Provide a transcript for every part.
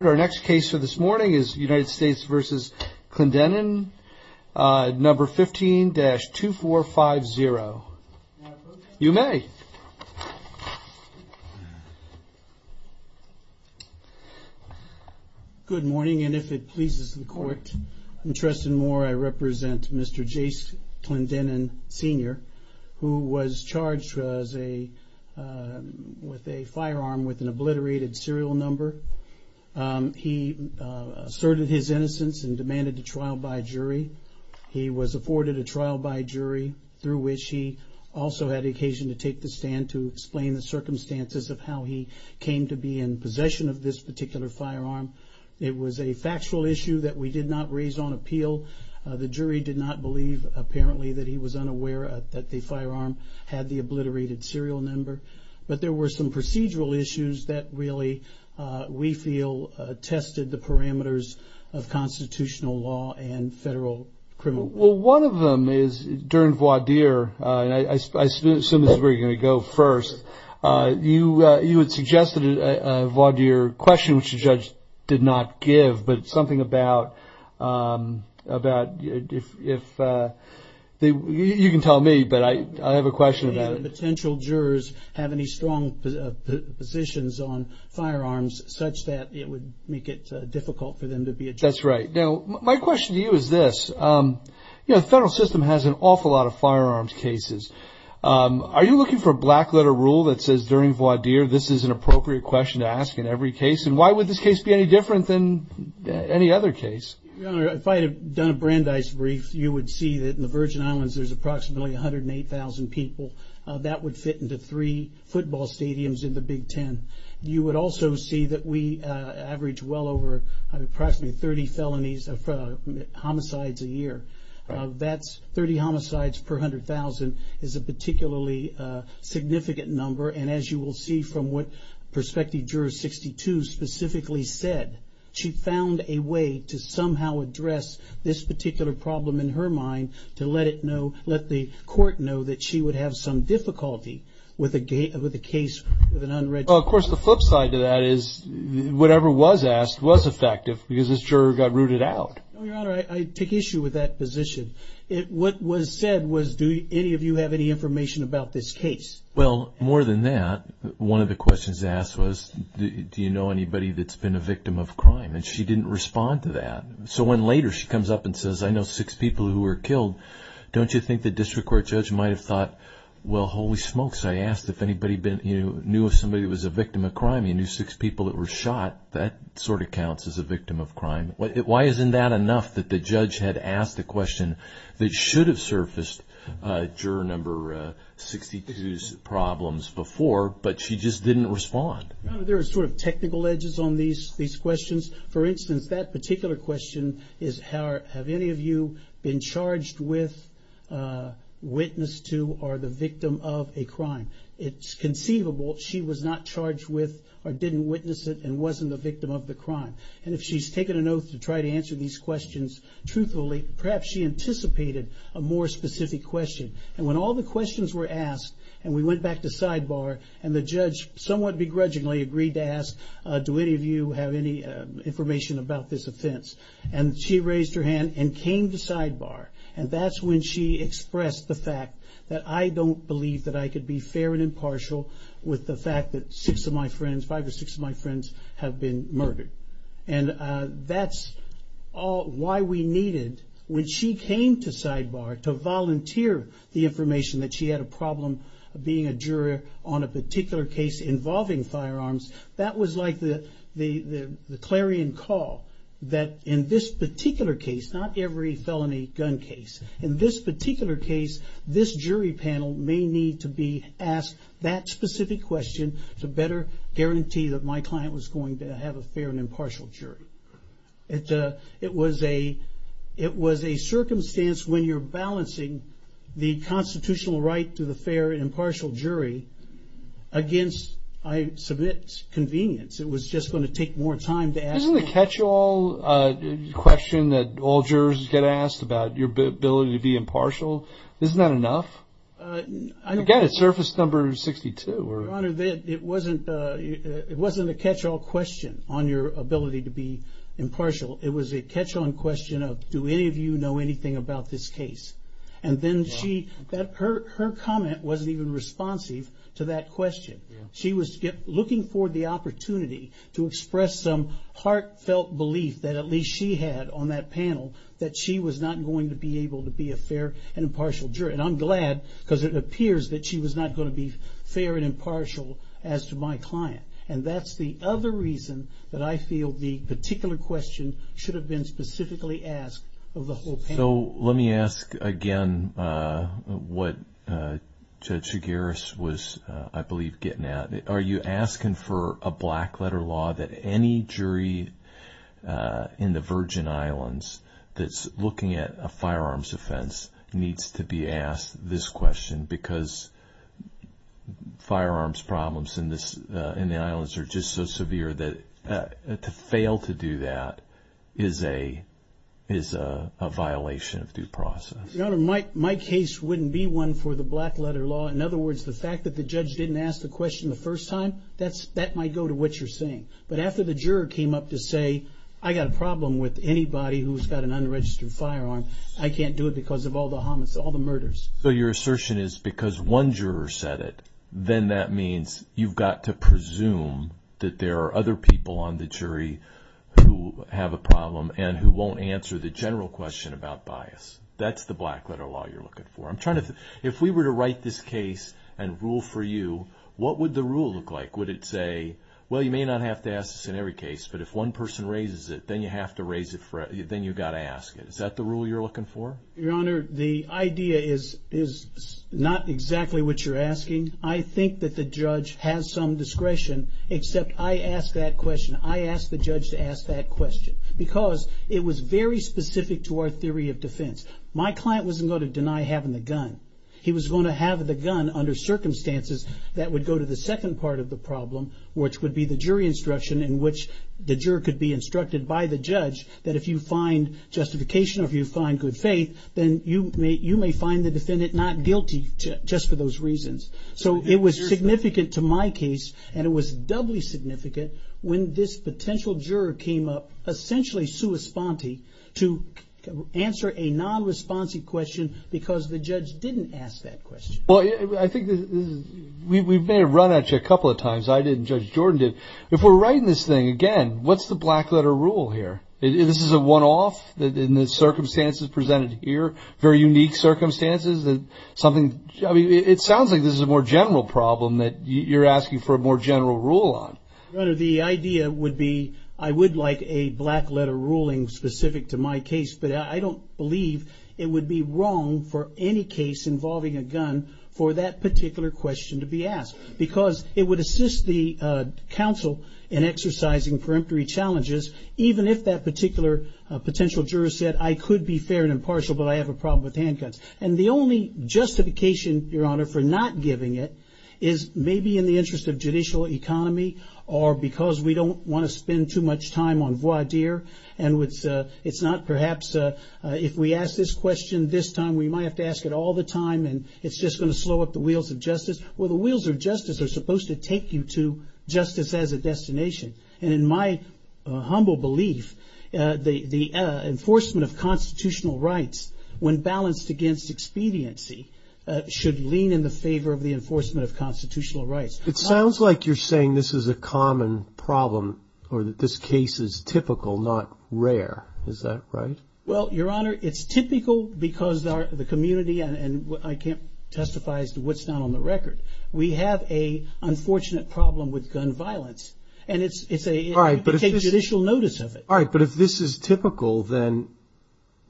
Our next case for this morning is United States v. Clendenin, number 15-2450. You may. Good morning, and if it pleases the court, I'm interested more I represent Mr. Jace Clendenin Sr., who was charged with a firearm with an obliterated serial number. He asserted his innocence and demanded a trial by jury. He was afforded a trial by jury, through which he also had occasion to take the stand to explain the circumstances of how he came to be in possession of this particular firearm. It was a factual issue that we did not raise on appeal. The jury did not believe, apparently, that he was unaware that the firearm had the obliterated serial number. But there were some procedural issues that really, we feel, tested the parameters of constitutional law and federal criminal law. Well, one of them is during voir dire, and I assume this is where you're going to go first, you had suggested a voir dire question, which the judge did not give, but something about, you can tell me, but I have a question about it. Did any of the potential jurors have any strong positions on firearms such that it would make it difficult for them to be a jury? That's right. Now, my question to you is this. You know, the federal system has an awful lot of firearms cases. Are you looking for a black letter rule that says during voir dire, this is an appropriate question to ask in every case, and why would this case be any different than any other case? Your Honor, if I had done a Brandeis brief, you would see that in the Virgin Islands there's approximately 108,000 people. That would fit into three football stadiums in the Big Ten. You would also see that we average well over approximately 30 felonies, homicides a year. That's 30 homicides per 100,000 is a particularly significant number, and as you will see from what Prospective Juror 62 specifically said, she found a way to somehow address this particular problem in her mind to let it know, let the court know that she would have some difficulty with a case with an unregistered jury. Of course, the flip side to that is whatever was asked was effective because this juror got rooted out. Your Honor, I take issue with that position. What was said was, do any of you have any information about this case? Well, more than that, one of the questions asked was, do you know anybody that's been a victim of crime? And she didn't respond to that. So when later she comes up and says, I know six people who were killed, don't you think the district court judge might have thought, well, holy smokes, I asked if anybody knew of somebody who was a victim of crime, you knew six people that were shot, that sort of counts as a victim of crime. Why isn't that enough that the judge had asked a question that should have surfaced juror number 62's problems before, but she just didn't respond? Your Honor, there are sort of technical edges on these questions. For instance, that particular question is, have any of you been charged with, witnessed to, or the victim of a crime? It's conceivable she was not charged with or didn't witness it and wasn't the victim of the crime. And if she's taken an oath to try to answer these questions truthfully, perhaps she anticipated a more specific question. And when all the questions were asked, and we went back to sidebar, and the judge somewhat begrudgingly agreed to ask, do any of you have any information about this offense? And she raised her hand and came to sidebar, and that's when she expressed the fact that I don't believe that I could be fair and impartial with the fact that six of my friends, five or six of my friends, have been murdered. And that's why we needed, when she came to sidebar, to volunteer the information that she had a problem being a juror on a particular case involving firearms, that was like the clarion call. That in this particular case, not every felony gun case, in this particular case, this jury panel may need to be asked that specific question to better guarantee that my client was going to have a fair and impartial jury. It was a circumstance when you're balancing the constitutional right to the fair and impartial jury against, I submit, convenience. It was just going to take more time to ask. Isn't the catch-all question that all jurors get asked about your ability to be impartial, isn't that enough? Again, it's surface number 62. Your Honor, it wasn't a catch-all question on your ability to be impartial. It was a catch-all question of, do any of you know anything about this case? Her comment wasn't even responsive to that question. She was looking for the opportunity to express some heartfelt belief that at least she had on that panel that she was not going to be able to be a fair and impartial jury. I'm glad because it appears that she was not going to be fair and impartial as to my client. That's the other reason that I feel the particular question should have been specifically asked of the whole panel. Let me ask again what Judge Chigaris was, I believe, getting at. Are you asking for a black-letter law that any jury in the Virgin Islands that's looking at a firearms offense needs to be asked this question? Because firearms problems in the islands are just so severe that to fail to do that is a violation of due process. Your Honor, my case wouldn't be one for the black-letter law. In other words, the fact that the judge didn't ask the question the first time, that might go to what you're saying. But after the juror came up to say, I got a problem with anybody who's got an unregistered firearm, I can't do it because of all the homicide, all the murders. So your assertion is because one juror said it, then that means you've got to presume that there are other people on the jury who have a problem and who won't answer the general question about bias. That's the black-letter law you're looking for. If we were to write this case and rule for you, what would the rule look like? Would it say, well, you may not have to ask this in every case, but if one person raises it, then you have to ask it. Is that the rule you're looking for? Your Honor, the idea is not exactly what you're asking. I think that the judge has some discretion, except I asked that question. I asked the judge to ask that question because it was very specific to our theory of defense. My client wasn't going to deny having the gun. He was going to have the gun under circumstances that would go to the second part of the problem, which would be the jury instruction in which the juror could be instructed by the judge that if you find justification or if you find good faith, then you may find the defendant not guilty just for those reasons. So it was significant to my case, and it was doubly significant when this potential juror came up essentially sua sponte to answer a non-responsive question because the judge didn't ask that question. Well, I think we may have run at you a couple of times. I didn't. Judge Jordan did. If we're writing this thing again, what's the black letter rule here? This is a one-off in the circumstances presented here, very unique circumstances. It sounds like this is a more general problem that you're asking for a more general rule on. The idea would be I would like a black letter ruling specific to my case, but I don't believe it would be wrong for any case involving a gun for that particular question to be asked. Because it would assist the counsel in exercising peremptory challenges, even if that particular potential juror said I could be fair and impartial, but I have a problem with handguns. And the only justification, Your Honor, for not giving it is maybe in the interest of judicial economy or because we don't want to spend too much time on voir dire. And it's not perhaps if we ask this question this time, we might have to ask it all the time, and it's just going to slow up the wheels of justice. Well, the wheels of justice are supposed to take you to justice as a destination. And in my humble belief, the enforcement of constitutional rights, when balanced against expediency, should lean in the favor of the enforcement of constitutional rights. It sounds like you're saying this is a common problem or that this case is typical, not rare. Is that right? Well, Your Honor, it's typical because the community and I can't testify as to what's not on the record. We have a unfortunate problem with gun violence, and it's a judicial notice of it. All right, but if this is typical, then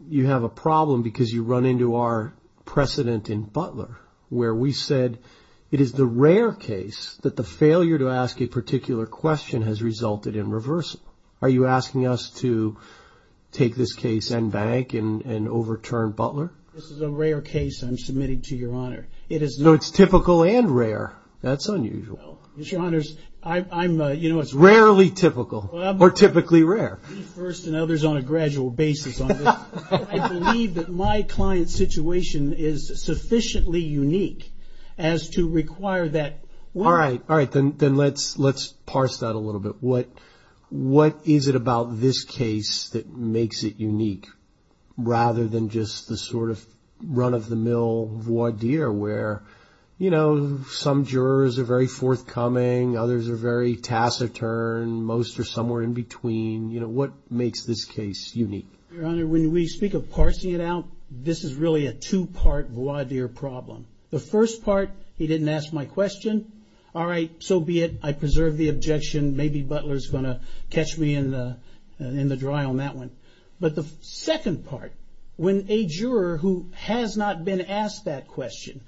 you have a problem because you run into our precedent in Butler where we said it is the rare case that the failure to ask a particular question has resulted in reversal. Are you asking us to take this case and bank and overturn Butler? This is a rare case I'm submitting to Your Honor. No, it's typical and rare. That's unusual. Rarely typical or typically rare. I believe that my client's situation is sufficiently unique as to require that. All right. All right. Then let's parse that a little bit. What is it about this case that makes it unique rather than just the sort of run-of-the-mill voir dire where, you know, some jurors are very forthcoming, others are very taciturn, most are somewhere in between? You know, what makes this case unique? Your Honor, when we speak of parsing it out, this is really a two-part voir dire problem. The first part, he didn't ask my question. All right, so be it. I preserve the objection. Maybe Butler's going to catch me in the dry on that one. But the second part, when a juror who has not been asked that question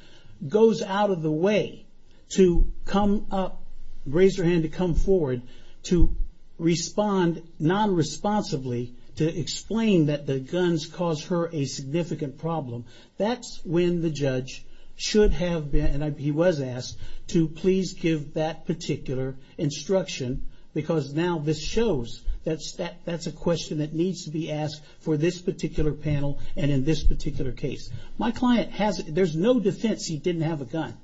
goes out of the way to come up, raise their hand to come forward, to respond nonresponsively, to explain that the guns caused her a significant problem, that's when the judge should have been, and he was asked, to please give that particular instruction because now this shows that that's a question that needs to be asked for this particular panel and in this particular case. My client has, there's no defense he didn't have a gun.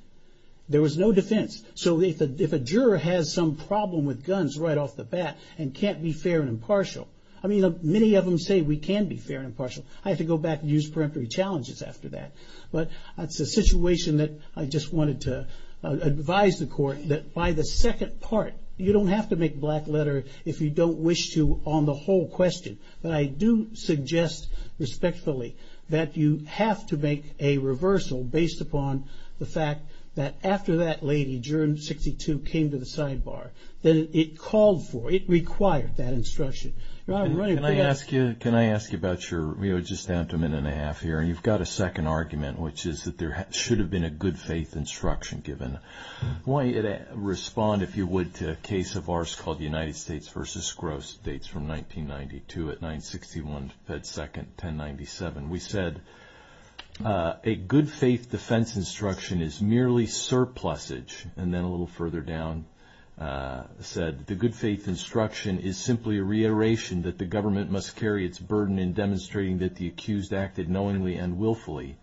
There was no defense. So if a juror has some problem with guns right off the bat and can't be fair and impartial, I mean, many of them say we can be fair and impartial. I have to go back and use peremptory challenges after that. But it's a situation that I just wanted to advise the court that by the second part, you don't have to make black letter if you don't wish to on the whole question. But I do suggest respectfully that you have to make a reversal based upon the fact that after that lady, juror 62, came to the sidebar, that it called for, it required that instruction. Can I ask you about your, we're just down to a minute and a half here, and you've got a second argument, which is that there should have been a good faith instruction given. Why don't you respond, if you would, to a case of ours called United States v. Gross, dates from 1992 at 9-61-1097. We said, a good faith defense instruction is merely surplusage. And then a little further down said, the good faith instruction is simply a reiteration that the government must carry its burden in demonstrating that the accused acted knowingly and willfully.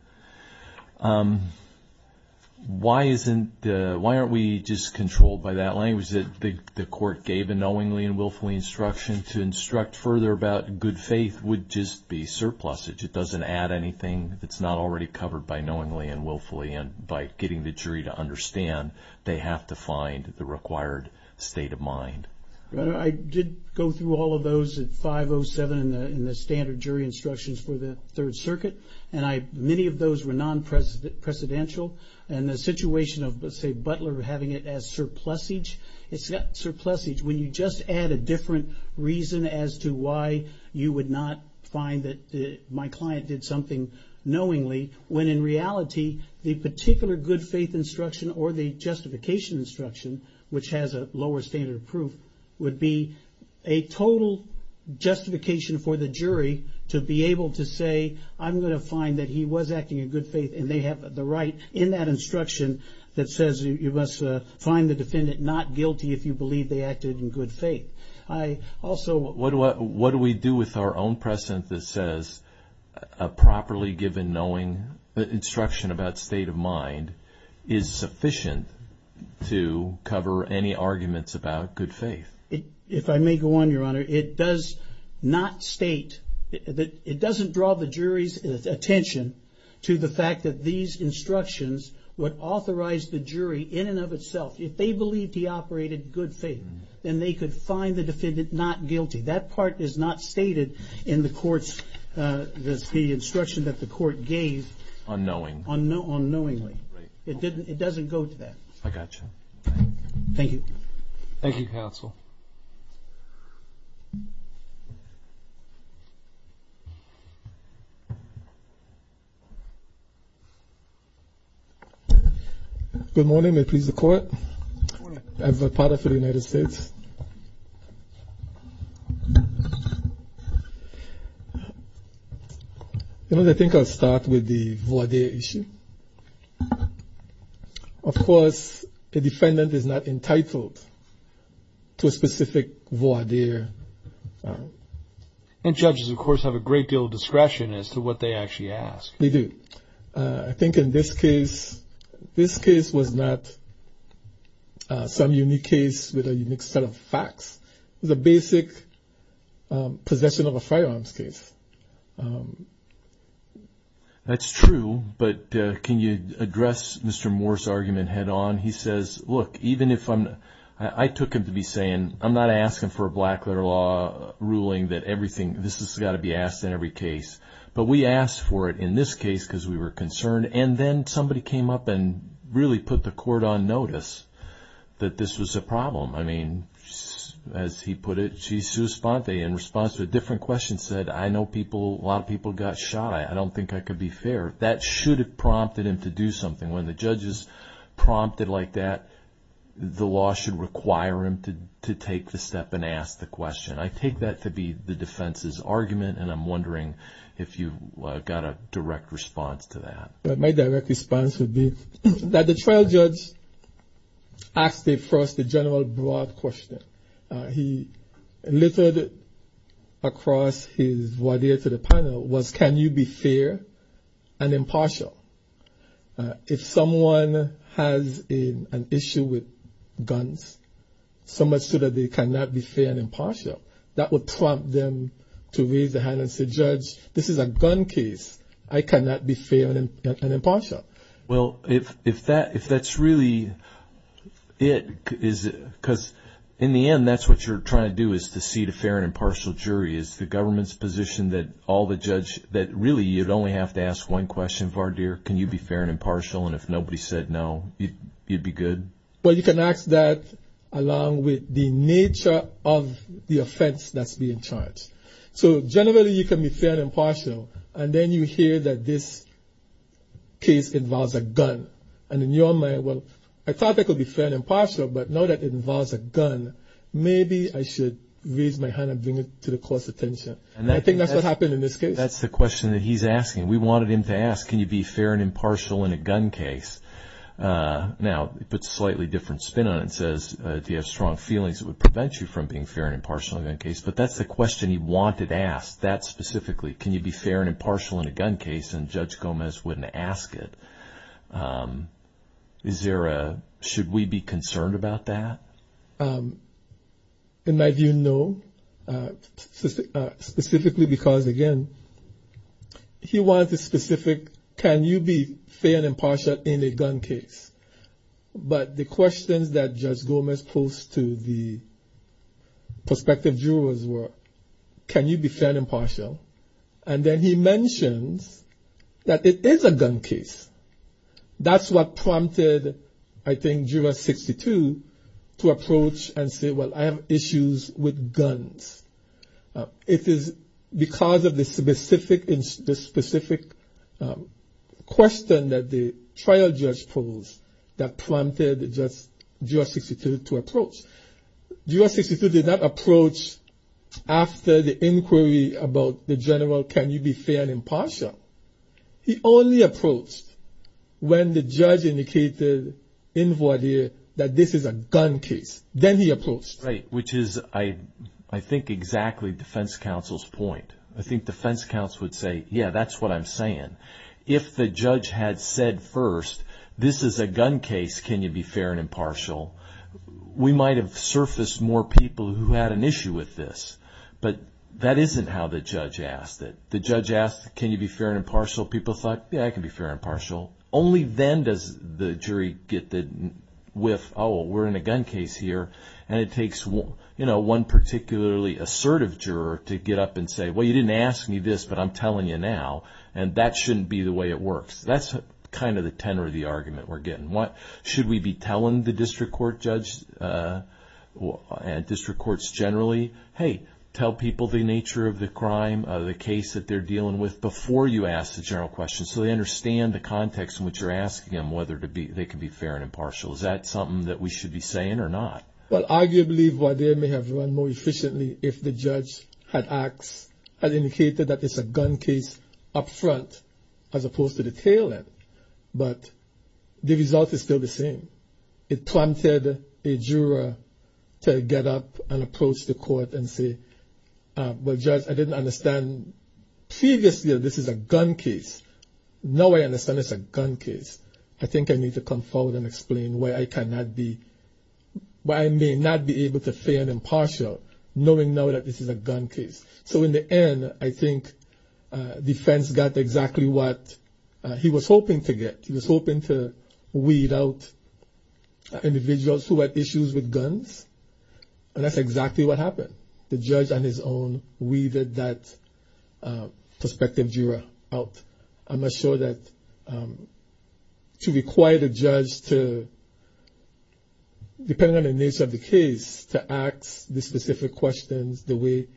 Why aren't we just controlled by that language that the court gave a knowingly and willfully instruction to instruct further about good faith would just be surplusage. It doesn't add anything. It's not already covered by knowingly and willfully. And by getting the jury to understand, they have to find the required state of mind. I did go through all of those at 5-07 in the standard jury instructions for the Third Circuit. And many of those were non-presidential. And the situation of, say, Butler having it as surplusage, it's not surplusage when you just add a different reason as to why you would not find that my client did something knowingly. When in reality, the particular good faith instruction or the justification instruction, which has a lower standard of proof, would be a total justification for the jury to be able to say, I'm going to find that he was acting in good faith. And they have the right in that instruction that says you must find the defendant not guilty if you believe they acted in good faith. What do we do with our own precedent that says a properly given knowing instruction about state of mind is sufficient to cover any arguments about good faith? If I may go on, Your Honor, it does not state, it doesn't draw the jury's attention to the fact that these instructions would authorize the jury in and of itself, if they believed he operated in good faith, then they could find the defendant not guilty. That part is not stated in the court's, the instruction that the court gave on knowingly. It doesn't go to that. I got you. Thank you. Thank you, Counsel. Good morning. May it please the Court. Good morning. As a part of the United States. You know, I think I'll start with the voir dire issue. Of course, the defendant is not entitled to a specific voir dire. And judges, of course, have a great deal of discretion as to what they actually ask. They do. I think in this case, this case was not some unique case with a unique set of facts. It was a basic possession of a firearms case. That's true. But can you address Mr. Moore's argument head on? He says, look, even if I'm, I took him to be saying, I'm not asking for a black letter law ruling that everything, this has got to be asked in every case. But we asked for it in this case because we were concerned. And then somebody came up and really put the court on notice that this was a problem. I mean, as he put it, in response to a different question said, I know people, a lot of people got shot. I don't think I could be fair. That should have prompted him to do something. When the judge is prompted like that, the law should require him to take the step and ask the question. I take that to be the defense's argument, and I'm wondering if you've got a direct response to that. My direct response would be that the trial judge asked the first, the general broad question. He littered across his void to the panel was, can you be fair and impartial? If someone has an issue with guns, so much so that they cannot be fair and impartial, that would prompt them to raise their hand and say, judge, this is a gun case. I cannot be fair and impartial. Well, if that's really it, because in the end, that's what you're trying to do is to see the fair and impartial jury. Is the government's position that all the judge, that really you'd only have to ask one question, Vardir, can you be fair and impartial, and if nobody said no, you'd be good? Well, you can ask that along with the nature of the offense that's being charged. So generally, you can be fair and impartial, and then you hear that this case involves a gun. And in your mind, well, I thought that could be fair and impartial, but now that it involves a gun, maybe I should raise my hand and bring it to the court's attention. I think that's what happened in this case. That's the question that he's asking. We wanted him to ask, can you be fair and impartial in a gun case? Now, he puts a slightly different spin on it and says, do you have strong feelings that would prevent you from being fair and impartial in a gun case? But that's the question he wanted asked, that specifically. Can you be fair and impartial in a gun case? And Judge Gomez wouldn't ask it. Should we be concerned about that? In my view, no. Specifically because, again, he wanted to specific, can you be fair and impartial in a gun case? But the questions that Judge Gomez posed to the prospective jurors were, can you be fair and impartial? And then he mentions that it is a gun case. That's what prompted, I think, juror 62 to approach and say, well, I have issues with guns. It is because of the specific question that the trial judge posed that prompted juror 62 to approach. Juror 62 did not approach after the inquiry about the general, can you be fair and impartial. He only approached when the judge indicated in voir dire that this is a gun case. Then he approached. Right, which is, I think, exactly defense counsel's point. I think defense counsel would say, yeah, that's what I'm saying. If the judge had said first, this is a gun case, can you be fair and impartial, we might have surfaced more people who had an issue with this. But that isn't how the judge asked it. The judge asked, can you be fair and impartial? People thought, yeah, I can be fair and impartial. Only then does the jury get the whiff, oh, we're in a gun case here, and it takes one particularly assertive juror to get up and say, well, you didn't ask me this, but I'm telling you now, and that shouldn't be the way it works. That's kind of the tenor of the argument we're getting. Should we be telling the district court judge and district courts generally, hey, tell people the nature of the crime, the case that they're dealing with, before you ask the general question so they understand the context in which you're asking them whether they can be fair and impartial. Is that something that we should be saying or not? Well, arguably, they may have run more efficiently if the judge had asked, had indicated that it's a gun case up front as opposed to the tail end. But the result is still the same. It prompted a juror to get up and approach the court and say, well, judge, I didn't understand previously that this is a gun case. Now I understand it's a gun case. I think I need to come forward and explain why I cannot be, why I may not be able to fair and impartial knowing now that this is a gun case. So in the end, I think defense got exactly what he was hoping to get. He was hoping to weed out individuals who had issues with guns, and that's exactly what happened. The judge on his own weeded that prospective juror out. I'm not sure that to require the judge to, depending on the nature of the case, to ask the specific questions the way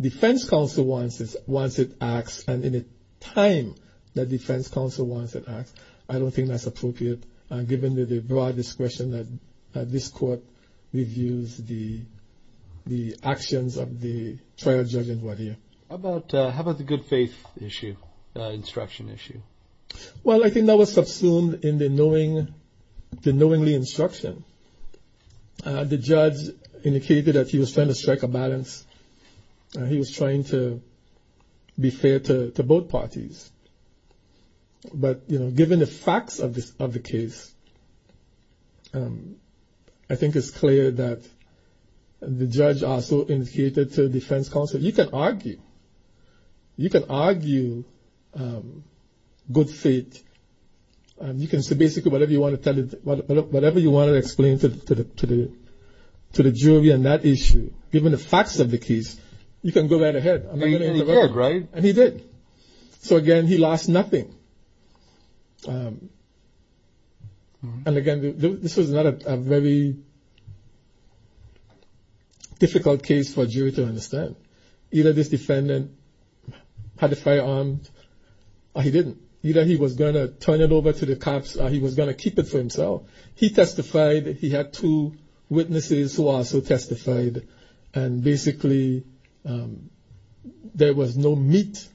defense counsel wants it asked, and in a time that defense counsel wants it asked, I don't think that's appropriate, given the broad discretion that this court reviews the actions of the trial judges who are here. How about the good faith instruction issue? Well, I think that was subsumed in the knowingly instruction. The judge indicated that he was trying to strike a balance. He was trying to be fair to both parties. But, you know, given the facts of the case, I think it's clear that the judge also indicated to defense counsel, you can argue. You can argue good faith. You can say basically whatever you want to explain to the jury on that issue. Given the facts of the case, you can go right ahead. And he did. So, again, he lost nothing. And, again, this was not a very difficult case for a jury to understand. Either this defendant had a firearm, or he didn't. Either he was going to turn it over to the cops, or he was going to keep it for himself. He testified. He had two witnesses who also testified. And, basically, there was no meat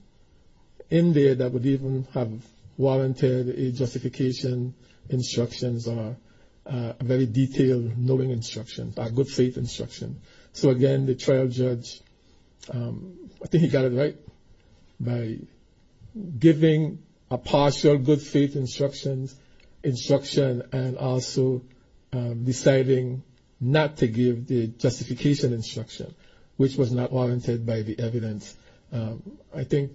in there that would even have warranted a justification, instructions, or a very detailed knowing instruction, a good faith instruction. So, again, the trial judge, I think he got it right by giving a partial good faith instruction and also deciding not to give the justification instruction, which was not warranted by the evidence. I think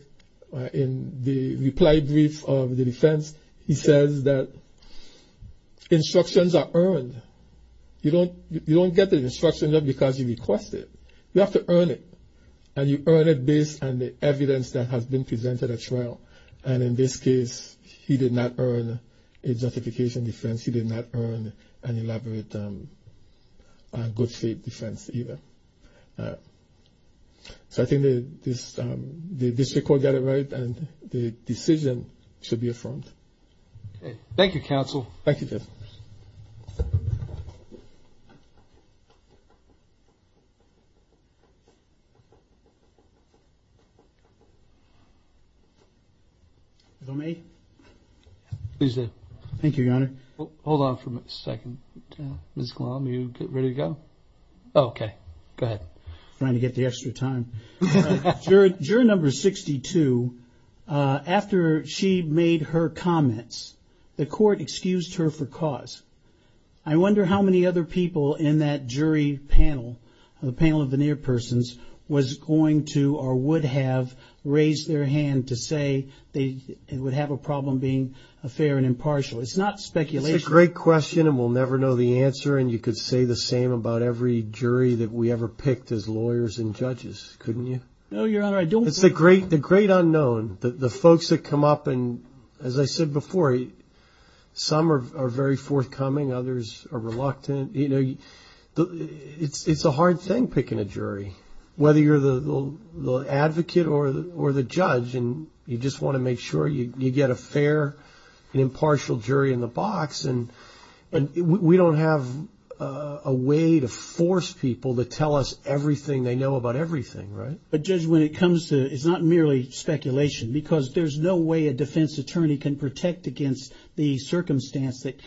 in the reply brief of the defense, he says that instructions are earned. You don't get the instruction because you request it. You have to earn it. And you earn it based on the evidence that has been presented at trial. And, in this case, he did not earn a justification defense. He did not earn an elaborate good faith defense either. So I think the district court got it right, and the decision should be affirmed. Thank you, counsel. Thank you, Judge. If I may? Please do. Thank you, Your Honor. Hold on for a second. Ms. Glom, are you ready to go? Okay. Go ahead. Trying to get the extra time. Juror number 62, after she made her comments, the court excused her for cause. I wonder how many other people in that jury panel, the panel of the near persons, was going to or would have raised their hand to say they would have a problem being fair and impartial. It's not speculation. It's a great question, and we'll never know the answer. And you could say the same about every jury that we ever picked as lawyers and judges, couldn't you? No, Your Honor, I don't think so. It's the great unknown, the folks that come up. And, as I said before, some are very forthcoming. Others are reluctant. It's a hard thing picking a jury, whether you're the advocate or the judge, and you just want to make sure you get a fair and impartial jury in the box. And we don't have a way to force people to tell us everything they know about everything, right? But, Judge, when it comes to it, it's not merely speculation, because there's no way a defense attorney can protect against the circumstance that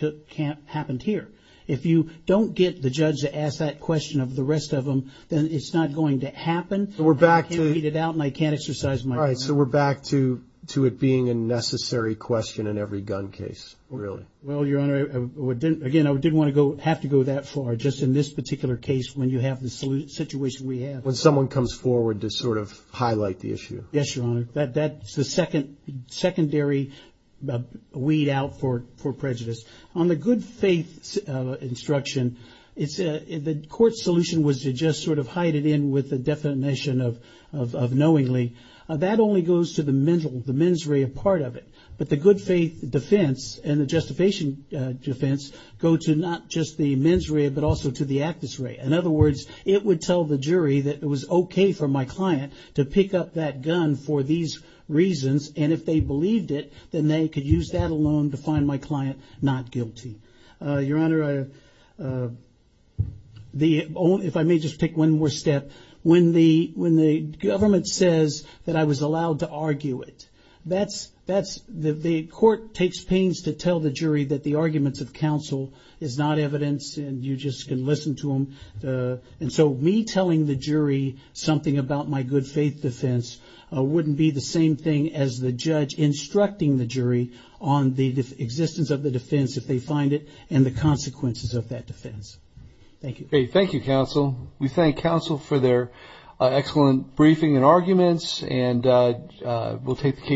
happened here. If you don't get the judge to ask that question of the rest of them, then it's not going to happen. I can't read it out, and I can't exercise my power. All right, so we're back to it being a necessary question in every gun case, really. Well, Your Honor, again, I didn't want to have to go that far, just in this particular case, when you have the situation we have. When someone comes forward to sort of highlight the issue. Yes, Your Honor. That's the secondary weed out for prejudice. On the good faith instruction, the court's solution was to just sort of hide it in with the definition of knowingly. That only goes to the mens rea part of it. But the good faith defense and the justification defense go to not just the mens rea, but also to the actus rea. In other words, it would tell the jury that it was okay for my client to pick up that gun for these reasons, and if they believed it, then they could use that alone to find my client not guilty. Your Honor, if I may just take one more step. When the government says that I was allowed to argue it, the court takes pains to tell the jury that the arguments of counsel is not evidence and you just can listen to them. So me telling the jury something about my good faith defense wouldn't be the same thing as the judge instructing the jury on the existence of the defense if they find it, and the consequences of that defense. Thank you. Thank you, counsel. We thank counsel for their excellent briefing and arguments, and we'll take the case.